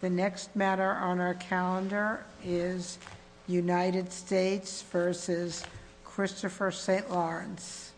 The next matter on our calendar is United States v. Christopher St. Lawrence.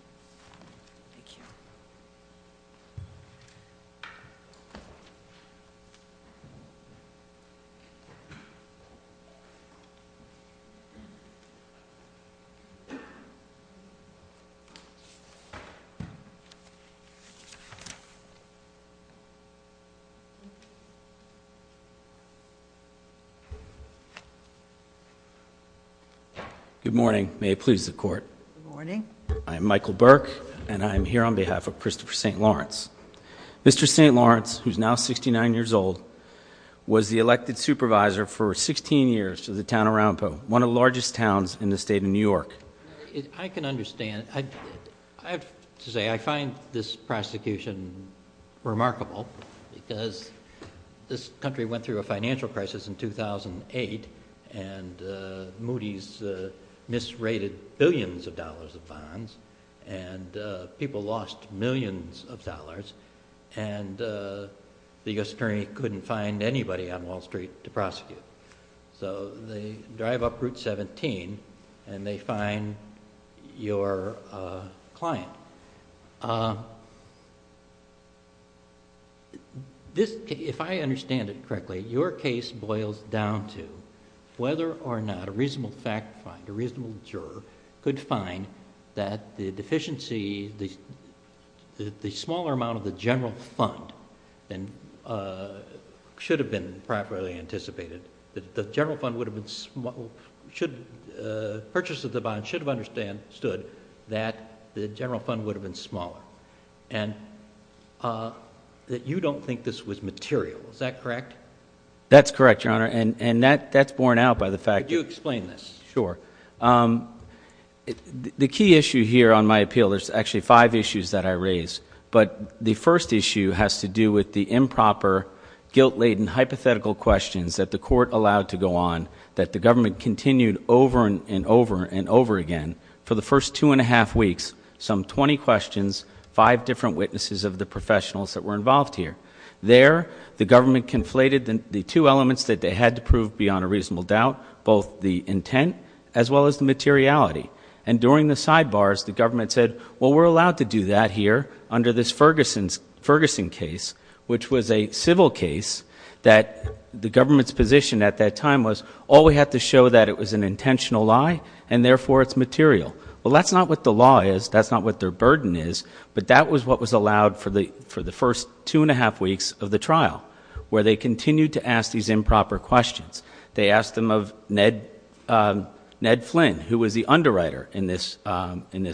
Good morning. May it please the court. Good morning. I'm Michael Burke and I'm here on behalf of Christopher St. Lawrence. Mr. St. Lawrence, who's now 69 years old, was the elected supervisor for 16 years to the town of Arapahoe, one of the largest towns in the state of New York. I can understand. I have to say I find this prosecution remarkable because this country went through a financial crisis in 2008 and Moody's misrated billions of dollars of bonds and people lost millions of dollars and the U.S. attorney couldn't find anybody on Wall Street to prosecute. So they drive up Route 17 and they find your client. If I understand it correctly, your case boils down to whether or not a reasonable fact finder, a reasonable juror, could find that the deficiency, the smaller amount of the general fund should have been properly anticipated. The general fund would have been... should... purchase of the bond should have understood that the general fund would have been smaller and that you don't think this was material. Is that correct? That's correct, Your Honor, and that's borne out by the fact... Could you explain this? Sure. The key issue here on my appeal, there's actually five issues that I raise, but the first issue has to do with the improper, guilt-laden hypothetical questions that the court allowed to go on, that the government continued over and over and over again for the first two and a half weeks, some 20 questions, five different witnesses of the professionals that were involved here. There, the government conflated the two elements that they had to prove beyond a reasonable doubt, both the intent as well as the materiality. And during the sidebars, the government said, well, we're allowed to do that here under this Ferguson case, which was a civil case, that the government's position at that time was, oh, we have to show that it was an intentional lie, and therefore it's material. Well, that's not what the law is, that's not what their burden is, but that was what was allowed for the first two and a half weeks of the trial, where they continued to ask these improper questions. They asked them of Ned Flynn, who was the underwriter in this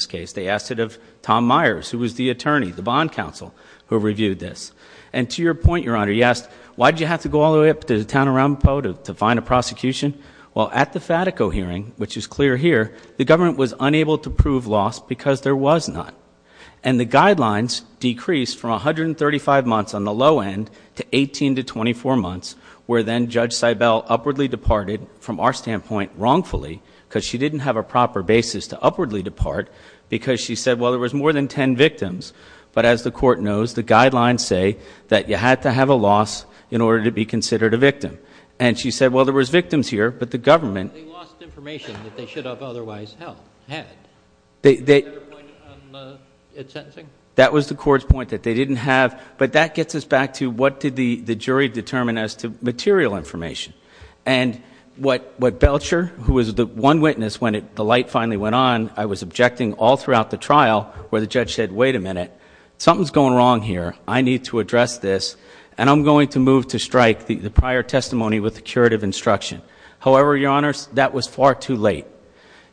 case. They asked it of Tom Myers, who was the attorney, the bond counsel, who reviewed this. And to your point, Your Honor, you asked, why did you have to go all the way up to the town of Ramapo to find a prosecution? Well, at the Fatico hearing, which is clear here, the government was unable to prove loss because there was not. And the guidelines decreased from 135 months on the low end to 18 to 24 months, where then Judge Seibel upwardly departed from our standpoint wrongfully, because she didn't have a proper basis to upwardly depart, because she said, well, there was more than 10 victims. But as the Court knows, the guidelines say that you had to have a loss in order to be considered a victim. And she said, well, there was victims here, but the government... They lost information that they should have otherwise had. Is that your point on the sentencing? That was the Court's point, that they didn't have... but that gets us back to what did the jury determine as to material information. And what Belcher, who was the one witness when the light finally went on, I was objecting all throughout the trial, where the judge said, wait a minute, something's going wrong here, I need to address this, and I'm going to move to strike the prior testimony with the curative instruction. However, Your Honors, that was far too late.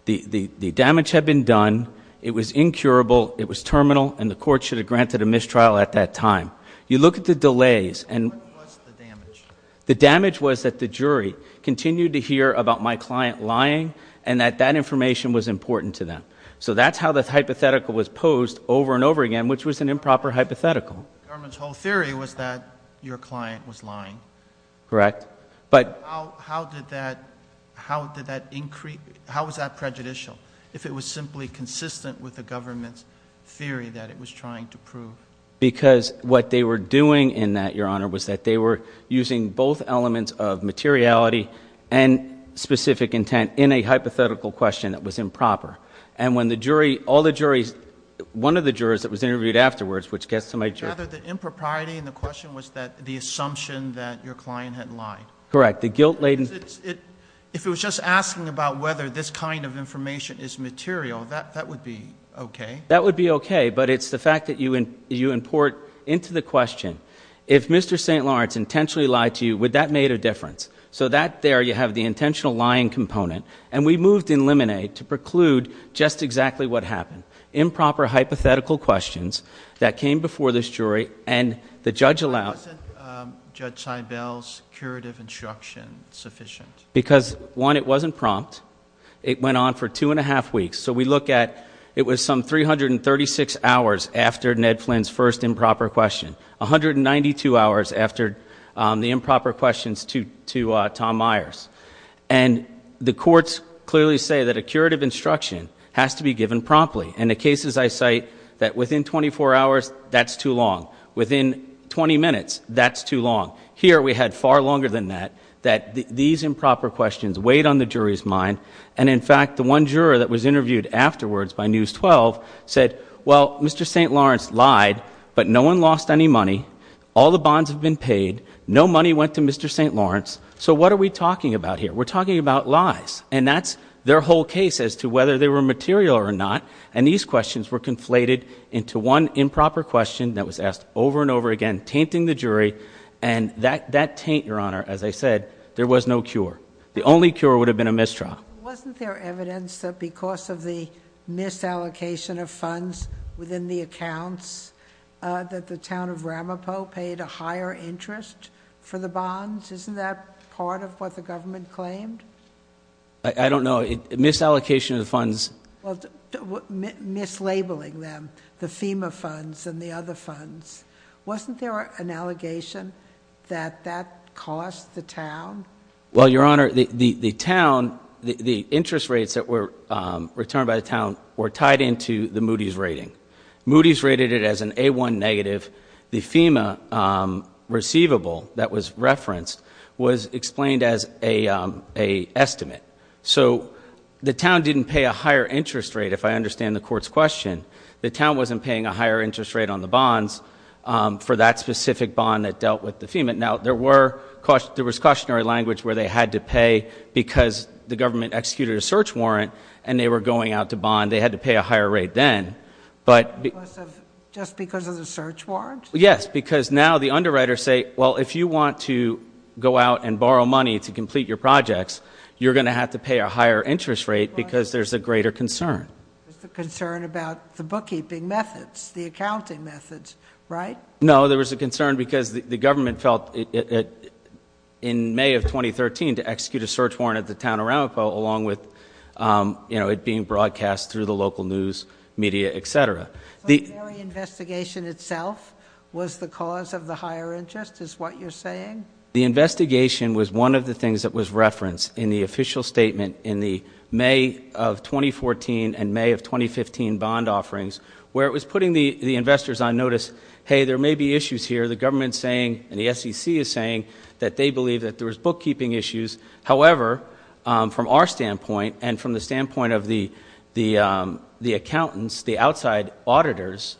The damage had been done, it was incurable, it was terminal, and the Court should have granted a mistrial at that time. You look at the delays and... What was the damage? The damage was that the jury continued to hear about my client lying and that that information was important to them. So that's how the hypothetical was posed over and over again, which was an improper hypothetical. The government's whole theory was that your client was lying. Correct. But how did that increase... how was that prejudicial, if it was simply consistent with the government's theory that it was trying to prove? Because what they were doing in that, Your Honor, was that they were using both elements of materiality and specific intent in a hypothetical question that was improper. And when the jury, all the juries, one of the jurors that was interviewed afterwards, which gets to my... Rather, the impropriety in the question was that the assumption that your client had lied. Correct. The guilt-laden... If it was just asking about whether this kind of information is material, that would be okay. That would be okay, but it's the fact that you import into the question, if Mr. St. Lawrence intentionally lied to you, would that make a difference? So that there, you have the intentional lying component, and we moved in Lemonade to preclude just exactly what happened. Improper hypothetical questions that came before this jury, and the judge allowed... Wasn't Judge Seibel's curative instruction sufficient? Because one, it wasn't prompt. It went on for two and a half weeks. So we look at, it was some 336 hours after Ned Flynn's first improper question, 192 hours after the improper questions to Tom Myers. And the courts clearly say that a curative instruction has to be given promptly. In the cases I cite, that within 24 hours, that's too long. Within 20 minutes, that's too long. Here, we had far longer than that, that these improper questions weighed on the Mr. St. Lawrence lied, but no one lost any money. All the bonds have been paid. No money went to Mr. St. Lawrence. So what are we talking about here? We're talking about lies. And that's their whole case as to whether they were material or not. And these questions were conflated into one improper question that was asked over and over again, tainting the jury. And that taint, Your Honor, as I said, there was no cure. The only cure would have been a mistrial. Wasn't there evidence that because of the misallocation of funds within the accounts, that the town of Ramapo paid a higher interest for the bonds? Isn't that part of what the government claimed? I don't know. Misallocation of the funds. Mislabeling them, the FEMA funds and the other funds. Wasn't there an allegation that that cost the town? Well, Your Honor, the town, the interest rates that were returned by the town were tied into the Moody's rating. Moody's rated it as an A1 negative. The FEMA receivable that was referenced was explained as a estimate. So the town didn't pay a higher interest rate, if I understand the Court's question. The town wasn't paying a higher interest rate on the bonds for that specific bond that dealt with the FEMA. Now, there were, there was a precautionary language where they had to pay because the government executed a search warrant and they were going out to bond. They had to pay a higher rate then. Just because of the search warrant? Yes, because now the underwriters say, well, if you want to go out and borrow money to complete your projects, you're going to have to pay a higher interest rate because there's a greater concern. There's a concern about the bookkeeping methods, the accounting methods, right? No, there was a concern because the government felt in May of 2013 to execute a search warrant at the town of Aramco along with, you know, it being broadcast through the local news media, etc. The investigation itself was the cause of the higher interest is what you're saying? The investigation was one of the things that was referenced in the official statement in the May of 2014 and May of 2015 bond offerings where it was putting the investors on notice, hey, there may be issues here. The government's saying and the SEC is saying that they believe that there was bookkeeping issues. However, from our standpoint and from the standpoint of the accountants, the outside auditors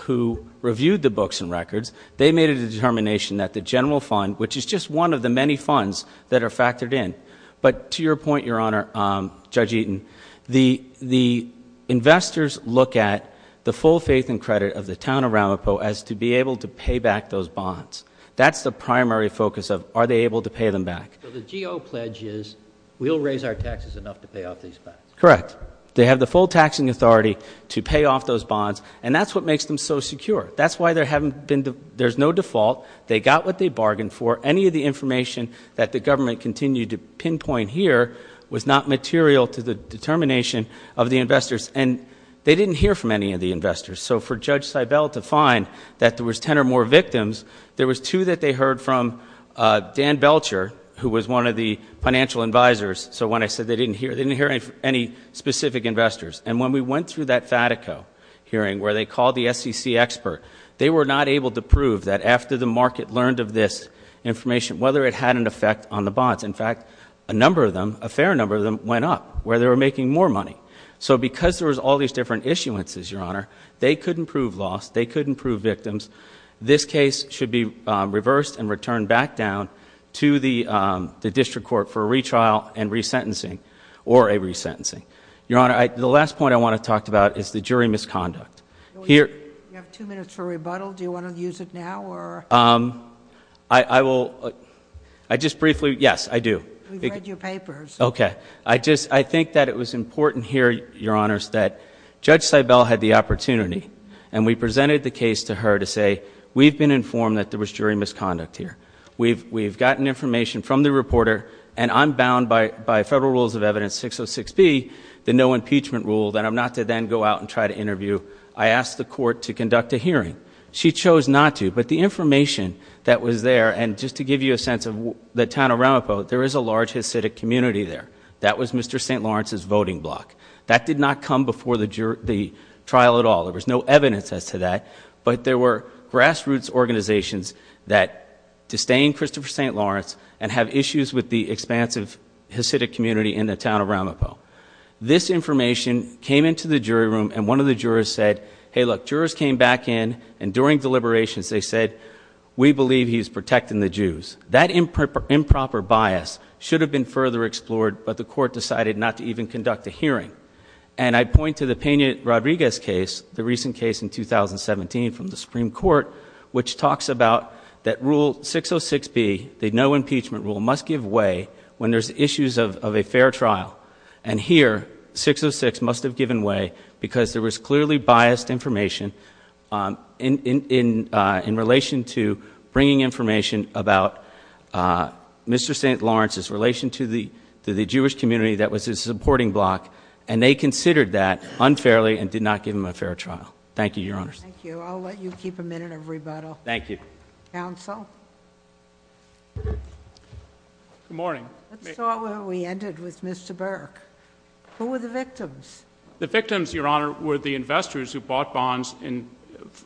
who reviewed the books and records, they made a determination that the general fund, which is just one of the many funds that are factored in. But to your point, Your Honor, Judge Eaton, the investors look at the full faith and credit of the town of Aramco as to be able to pay back those bonds. That's the primary focus of, are they able to pay them back? So the GEO pledge is, we'll raise our taxes enough to pay off these bonds? Correct. They have the full taxing authority to pay off those bonds and that's what makes them so secure. That's why there haven't been, there's no default. They got what they bargained for. Any of the information that the government continued to pinpoint here was not material to the determination of the investors. And they didn't hear from any of the investors. So for Judge Seibel to find that there was 10 or more victims, there was two that they heard from Dan Belcher, who was one of the financial advisors. So when I said they didn't hear, they didn't hear any specific investors. And when we went through that Fatico hearing where they called the SEC expert, they were not able to prove that after the market learned of this information, whether it had an effect on the bonds. In fact, a number of them, a fair number of them went up where they were making more money. So because there was all these different issuances, Your Honor, they couldn't prove loss. They couldn't prove victims. This case should be reversed and returned back down to the district court for a retrial and resentencing or a resentencing. Your Honor, the last point I want to talk about is the jury misconduct. You have two minutes for rebuttal. Do you want to use it now or? I will. I just briefly. Yes, I do. We've read your papers. Okay. I think that it was important here, Your Honors, that Judge Seibel had the opportunity and we presented the case to her to say, we've been informed that there was jury misconduct here. We've gotten information from the reporter and I'm bound by Federal Rules of Evidence 606B, the no impeachment rule, that I'm not to then go out and try to interview. I asked the court to conduct a hearing. She chose not to. But the information that was there, and just to give you a sense of the town of Ramapo, there is a large Hasidic community there. That was Mr. St. Lawrence's voting block. That did not come before the trial at all. There was no evidence as to that. But there were grassroots organizations that disdain Christopher St. Lawrence and have issues with the expansive Hasidic community in the town of Ramapo. This information came into the jury room and one of the jurors said, hey look, jurors came back in and during deliberations they said, we believe he's protecting the Jews. That improper bias should have been further explored, but the court decided not to even conduct a hearing. And I point to the Peña Rodriguez case, the recent case in 2017 from the Supreme Court, which talks about that Rule 606B, the no impeachment rule, must give way when there's issues of a fair trial. And here, 606 must have given way because there was clearly biased information in relation to bringing information about Mr. St. Lawrence's relation to the Jewish community that was his supporting block. And they considered that unfairly and did not give him a fair trial. Thank you, Your Honor. Thank you. I'll let you keep a minute of rebuttal. Thank you. Counsel? Good morning. Let's start where we ended with Mr. Burke. Who were the victims? The victims, Your Honor, were the investors who bought bonds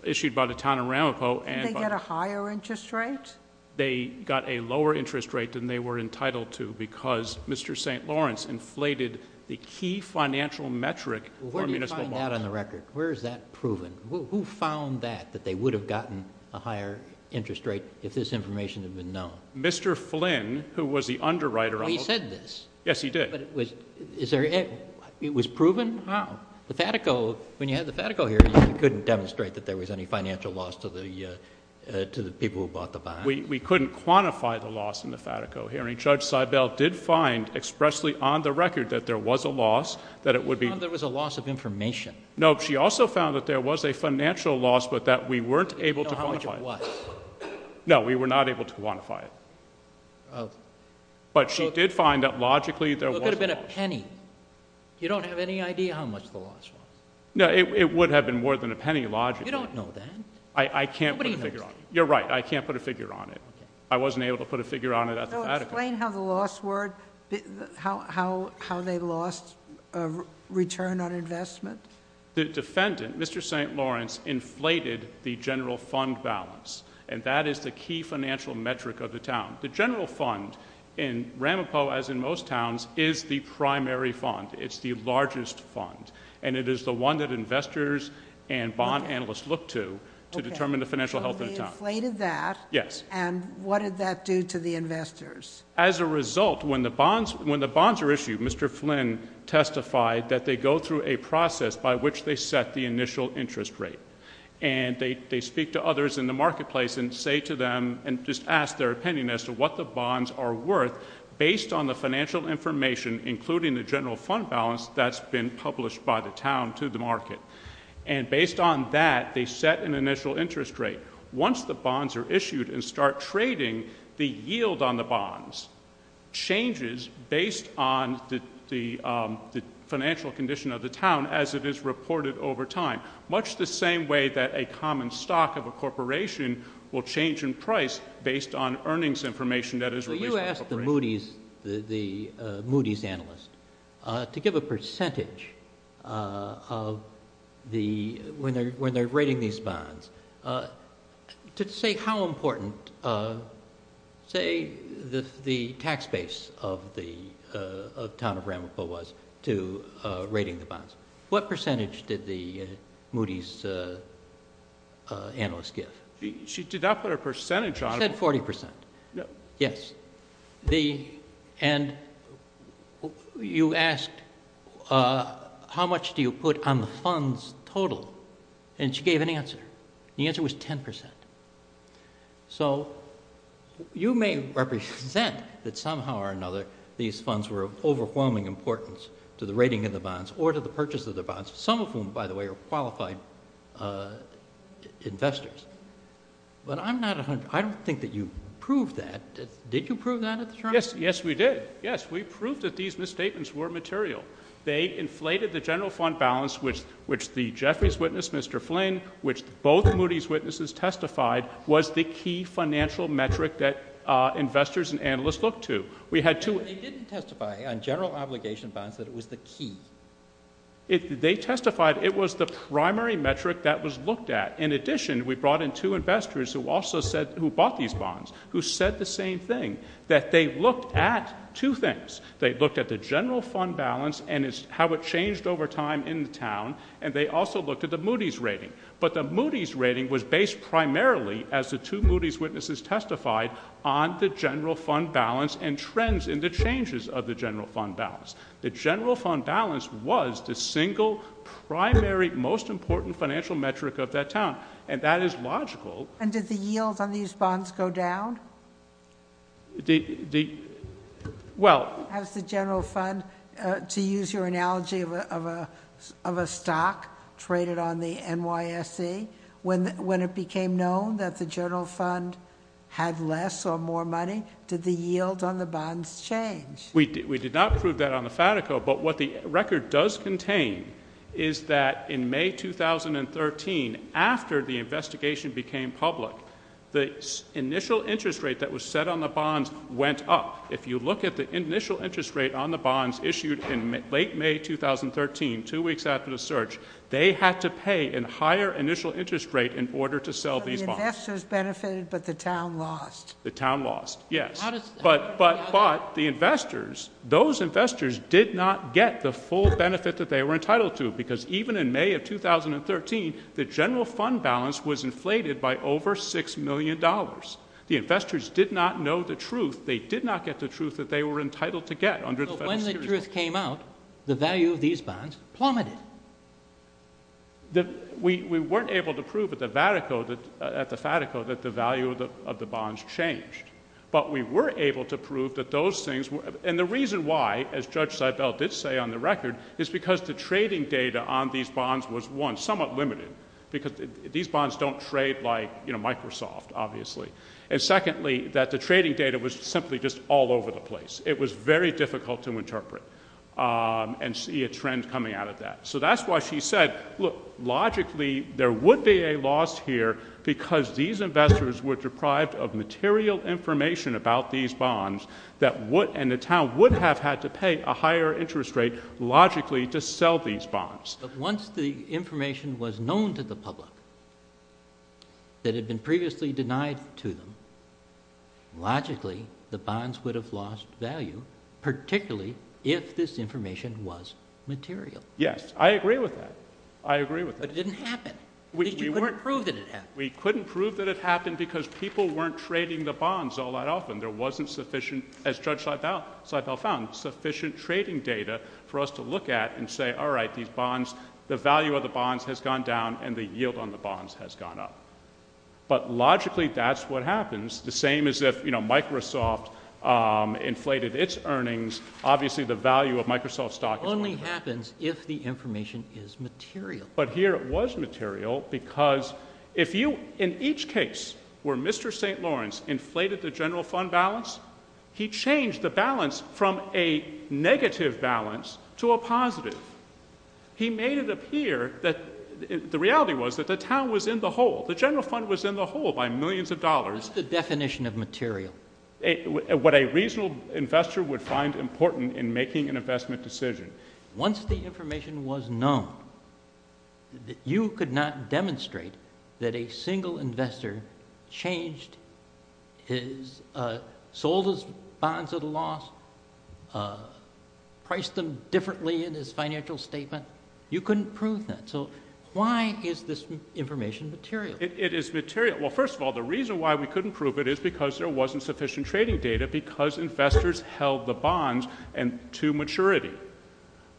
issued by the town of Ramapo Didn't they get a higher interest rate? They got a lower interest rate than they were entitled to because Mr. St. Lawrence inflated the key financial metric for municipal bonds. Where do you find that on the record? Where is that proven? Who found that, that they would have gotten a higher interest rate if this information had been known? Mr. Flynn, who was the underwriter on the bonds. He said this. Yes, he did. But it was, is there, it was proven? How? The FATICO, when you had the FATICO hearings, you couldn't demonstrate that there was any financial loss to the people who bought the bonds. We couldn't quantify the loss in the FATICO hearing. Judge Seibel did find expressly on the record that there was a loss, that it would be. She found there was a loss of information. No, she also found that there was a financial loss, but that we weren't able to quantify it. How much it was. No, we were not able to quantify it. But she did find that logically there was. It could have been a penny. You don't have any idea how much the loss was? No, it would have been more than a penny logically. You don't know that? I can't put a figure on it. Nobody knows that. You're right. I can't put a figure on it. I wasn't able to put a figure on it at the FATICO. Explain how the loss were, how, how, how they lost a return on investment. The defendant, Mr. St. Lawrence, inflated the general fund balance. And that is the key financial metric of the town. The general fund in Ramapo, as in most towns, is the primary fund. It's the largest fund. And it is the one that investors and bond analysts look to, to determine the financial health of the town. Okay. So they inflated that. Yes. And what did that do to the investors? As a result, when the bonds, when the bonds are issued, Mr. Flynn testified that they go through a process by which they set the initial interest rate. And they, they speak to others in the marketplace and say to them, and just ask their opinion as to what the bonds are worth based on the financial information, including the general fund balance that's been published by the town to the market. And based on that, they set an initial interest rate. Once the bonds are issued and start trading, the yield on the bonds changes based on the, the financial condition of the town as it is reported over time. Much the same way that a common stock of a corporation will change in price based on earnings information that is released by the corporation. Okay. And what did the Moody's, the Moody's analyst, to give a percentage of the, when they're, when they're rating these bonds, to say how important, say the, the tax base of the, of town of Ramaphosa was to rating the bonds? What percentage did the Moody's analyst give? She did not put a percentage on it. She said 40%. Yes. And you asked, how much do you put on the funds total? And she gave an answer. And the answer was 10%. So you may represent that somehow or another, these funds were of overwhelming importance to the rating of the bonds or to the purchase of the bonds, some of whom, by the way, are qualified investors. But I'm not, I don't think that you proved that. Did you prove that at the time? Yes. Yes, we did. Yes. We proved that these misstatements were material. They inflated the general fund balance, which, which the Jeffries witness, Mr. Flynn, which both Moody's witnesses testified was the key financial metric that investors and analysts looked to. We had two- They didn't testify on general obligation bonds that it was the key. They testified it was the primary metric that was looked at. In addition, we brought in two investors who also said, who bought these bonds, who said the same thing, that they looked at two things. They looked at the general fund balance and how it changed over time in the town. And they also looked at the Moody's rating. But the Moody's rating was based primarily, as the two Moody's witnesses testified, on the general fund balance and trends in the changes of the general fund balance. The general fund balance was the single primary, most important financial metric of that town. And that is logical. And did the yield on these bonds go down? The, the, well- Has the general fund, to use your analogy of a, of a stock traded on the NYSE, when, when it became known that the general fund had less or more money, did the yield on the bonds change? We did, we did not prove that on the Fatico, but what the record does contain is that in became public, the initial interest rate that was set on the bonds went up. If you look at the initial interest rate on the bonds issued in late May 2013, two weeks after the search, they had to pay a higher initial interest rate in order to sell these bonds. So the investors benefited, but the town lost? The town lost, yes. But, but, but the investors, those investors did not get the full benefit that they were inflated by over $6 million. The investors did not know the truth. They did not get the truth that they were entitled to get under the Federal Securities Act. So when the truth came out, the value of these bonds plummeted? We weren't able to prove at the Fatico that the value of the bonds changed. But we were able to prove that those things were, and the reason why, as Judge Seibel did say on the record, is because the trading data on these bonds was, one, somewhat limited, because these bonds don't trade like, you know, Microsoft, obviously, and secondly, that the trading data was simply just all over the place. It was very difficult to interpret and see a trend coming out of that. So that's why she said, look, logically, there would be a loss here because these investors were deprived of material information about these bonds that would, and the town would have had to pay a higher interest rate, logically, to sell these bonds. But once the information was known to the public that had been previously denied to them, logically, the bonds would have lost value, particularly if this information was material. Yes. I agree with that. I agree with that. But it didn't happen. We couldn't prove that it happened. We couldn't prove that it happened because people weren't trading the bonds all that often. There wasn't sufficient, as Judge Seibel found, sufficient trading data for us to look at and say, all right, these bonds, the value of the bonds has gone down and the yield on the bonds has gone up. But logically, that's what happens. The same as if, you know, Microsoft inflated its earnings, obviously, the value of Microsoft stock only happens if the information is material. But here it was material because if you, in each case where Mr. St. Lawrence inflated the general fund balance, he changed the balance from a negative balance to a positive. He made it appear that the reality was that the town was in the hole. The general fund was in the hole by millions of dollars. What's the definition of material? What a reasonable investor would find important in making an investment decision. But once the information was known, you could not demonstrate that a single investor changed his, sold his bonds at a loss, priced them differently in his financial statement. You couldn't prove that. So why is this information material? It is material. Well, first of all, the reason why we couldn't prove it is because there wasn't sufficient trading data because investors held the bonds to maturity,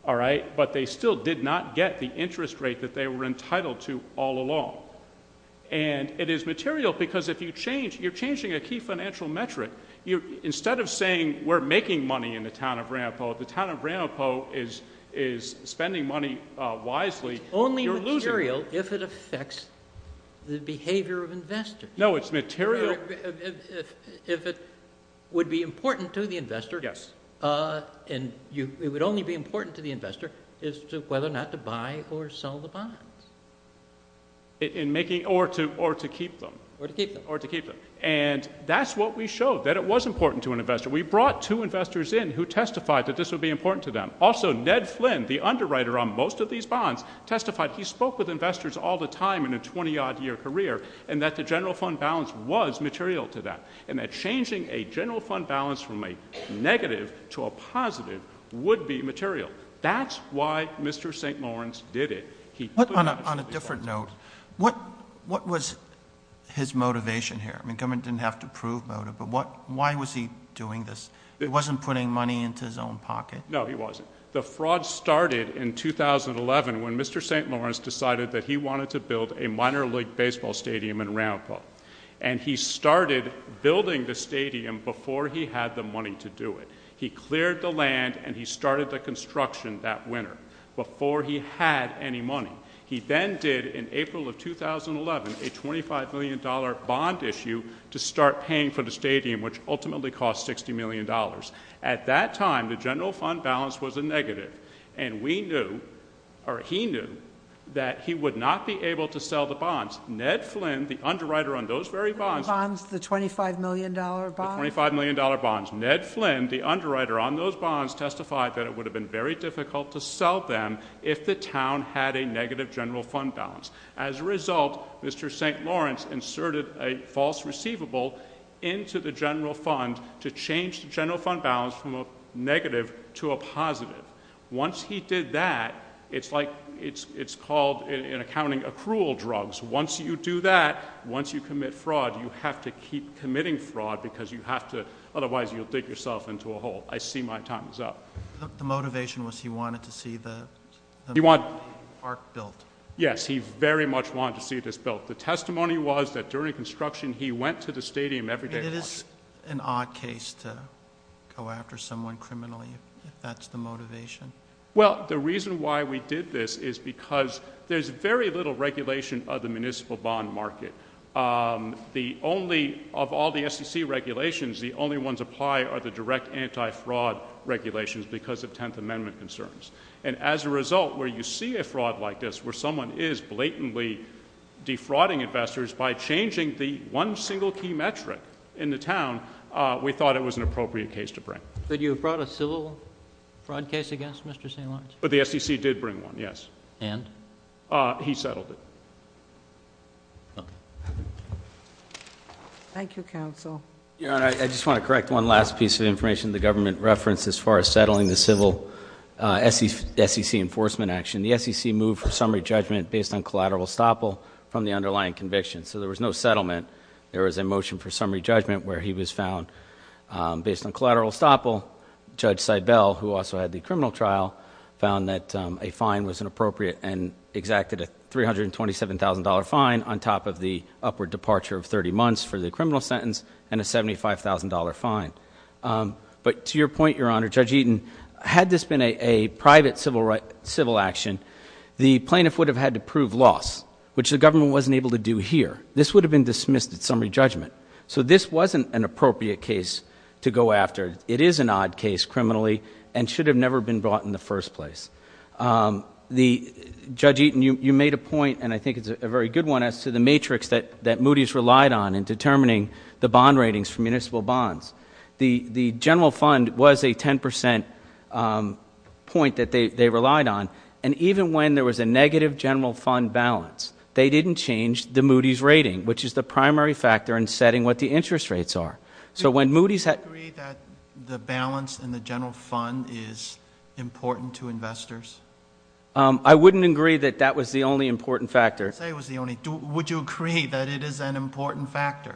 all right? But they still did not get the interest rate that they were entitled to all along. And it is material because if you change, you're changing a key financial metric. Instead of saying we're making money in the town of Ranopo, the town of Ranopo is spending money wisely. You're losing money. It's only material if it affects the behavior of investors. No, it's material. It's material if it would be important to the investor. Yes. And it would only be important to the investor as to whether or not to buy or sell the bonds. In making, or to keep them. Or to keep them. Or to keep them. And that's what we showed, that it was important to an investor. We brought two investors in who testified that this would be important to them. Also, Ned Flynn, the underwriter on most of these bonds, testified he spoke with investors all the time in a 20-odd-year career, and that the general fund balance was material to that. And that changing a general fund balance from a negative to a positive would be material. That's why Mr. St. Lawrence did it. He put money into these bonds. On a different note, what was his motivation here? I mean, the government didn't have to prove motive, but why was he doing this? He wasn't putting money into his own pocket. No, he wasn't. The fraud started in 2011 when Mr. St. Lawrence decided that he wanted to build a minor league baseball stadium in Ramphill. And he started building the stadium before he had the money to do it. He cleared the land, and he started the construction that winter, before he had any money. He then did, in April of 2011, a $25 million bond issue to start paying for the stadium, which ultimately cost $60 million. At that time, the general fund balance was a negative. And we knew, or he knew, that he would not be able to sell the bonds. Ned Flynn, the underwriter on those very bonds— The bonds, the $25 million bonds? The $25 million bonds. Ned Flynn, the underwriter on those bonds, testified that it would have been very difficult to sell them if the town had a negative general fund balance. As a result, Mr. St. Lawrence inserted a false receivable into the general fund to change the general fund balance from a negative to a positive. Once he did that, it's like—it's called, in accounting, accrual drugs. Once you do that, once you commit fraud, you have to keep committing fraud, because you have to—otherwise, you'll dig yourself into a hole. I see my time is up. The motivation was he wanted to see the park built. Yes, he very much wanted to see this built. The testimony was that during construction, he went to the stadium every day. It is an odd case to go after someone criminally, if that's the motivation. Well, the reason why we did this is because there's very little regulation of the municipal bond market. The only—of all the SEC regulations, the only ones applied are the direct anti-fraud regulations because of Tenth Amendment concerns. And as a result, where you see a fraud like this, where someone is blatantly defrauding investors by changing the one single key metric in the town, we thought it was an appropriate case to bring. But you brought a civil fraud case against Mr. St. Lawrence? But the SEC did bring one, yes. And? He settled it. Thank you, counsel. Your Honor, I just want to correct one last piece of information the government referenced as far as settling the civil SEC enforcement action. The SEC moved for summary judgment based on collateral estoppel from the underlying conviction, so there was no settlement. There was a motion for summary judgment where he was found based on collateral estoppel. Judge Seibel, who also had the criminal trial, found that a fine was inappropriate and exacted a $327,000 fine on top of the upward departure of 30 months for the criminal sentence and a $75,000 fine. But to your point, Your Honor, Judge Eaton, had this been a private civil action, the plaintiff would have had to prove loss, which the government wasn't able to do here. This would have been dismissed at summary judgment. So this wasn't an appropriate case to go after. It is an odd case criminally and should have never been brought in the first place. Judge Eaton, you made a point, and I think it's a very good one, as to the matrix that The general fund was a 10 percent point that they relied on, and even when there was a negative general fund balance, they didn't change the Moody's rating, which is the primary factor in setting what the interest rates are. So when Moody's had- Do you agree that the balance in the general fund is important to investors? I wouldn't agree that that was the only important factor. Would you agree that it is an important factor?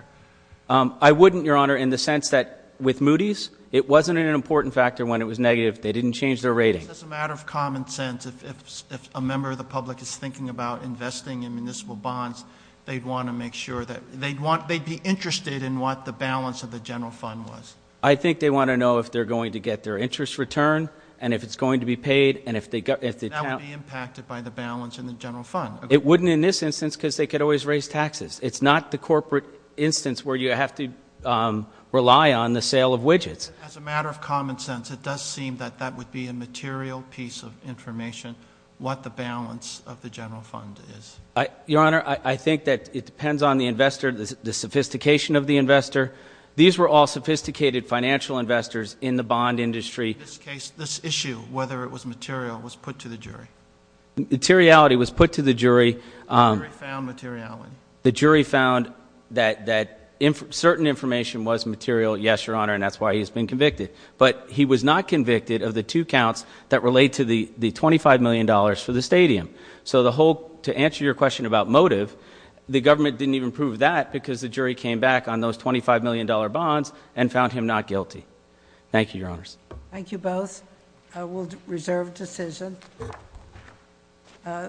I wouldn't, Your Honor, in the sense that with Moody's, it wasn't an important factor when it was negative. They didn't change their rating. Just as a matter of common sense, if a member of the public is thinking about investing in municipal bonds, they'd want to make sure that they'd be interested in what the balance of the general fund was. I think they want to know if they're going to get their interest return, and if it's going to be paid, and if they- That would be impacted by the balance in the general fund. It wouldn't in this instance because they could always raise taxes. It's not the corporate instance where you have to rely on the sale of widgets. As a matter of common sense, it does seem that that would be a material piece of information, what the balance of the general fund is. Your Honor, I think that it depends on the investor, the sophistication of the investor. These were all sophisticated financial investors in the bond industry. In this case, this issue, whether it was material, was put to the jury. Materiality was put to the jury. The jury found materiality. The jury found that certain information was material, yes, Your Honor, and that's why he's been convicted. He was not convicted of the two counts that relate to the $25 million for the stadium. To answer your question about motive, the government didn't even prove that because the jury came back on those $25 million bonds and found him not guilty. Thank you, Your Honors. Thank you both. We'll reserve decision.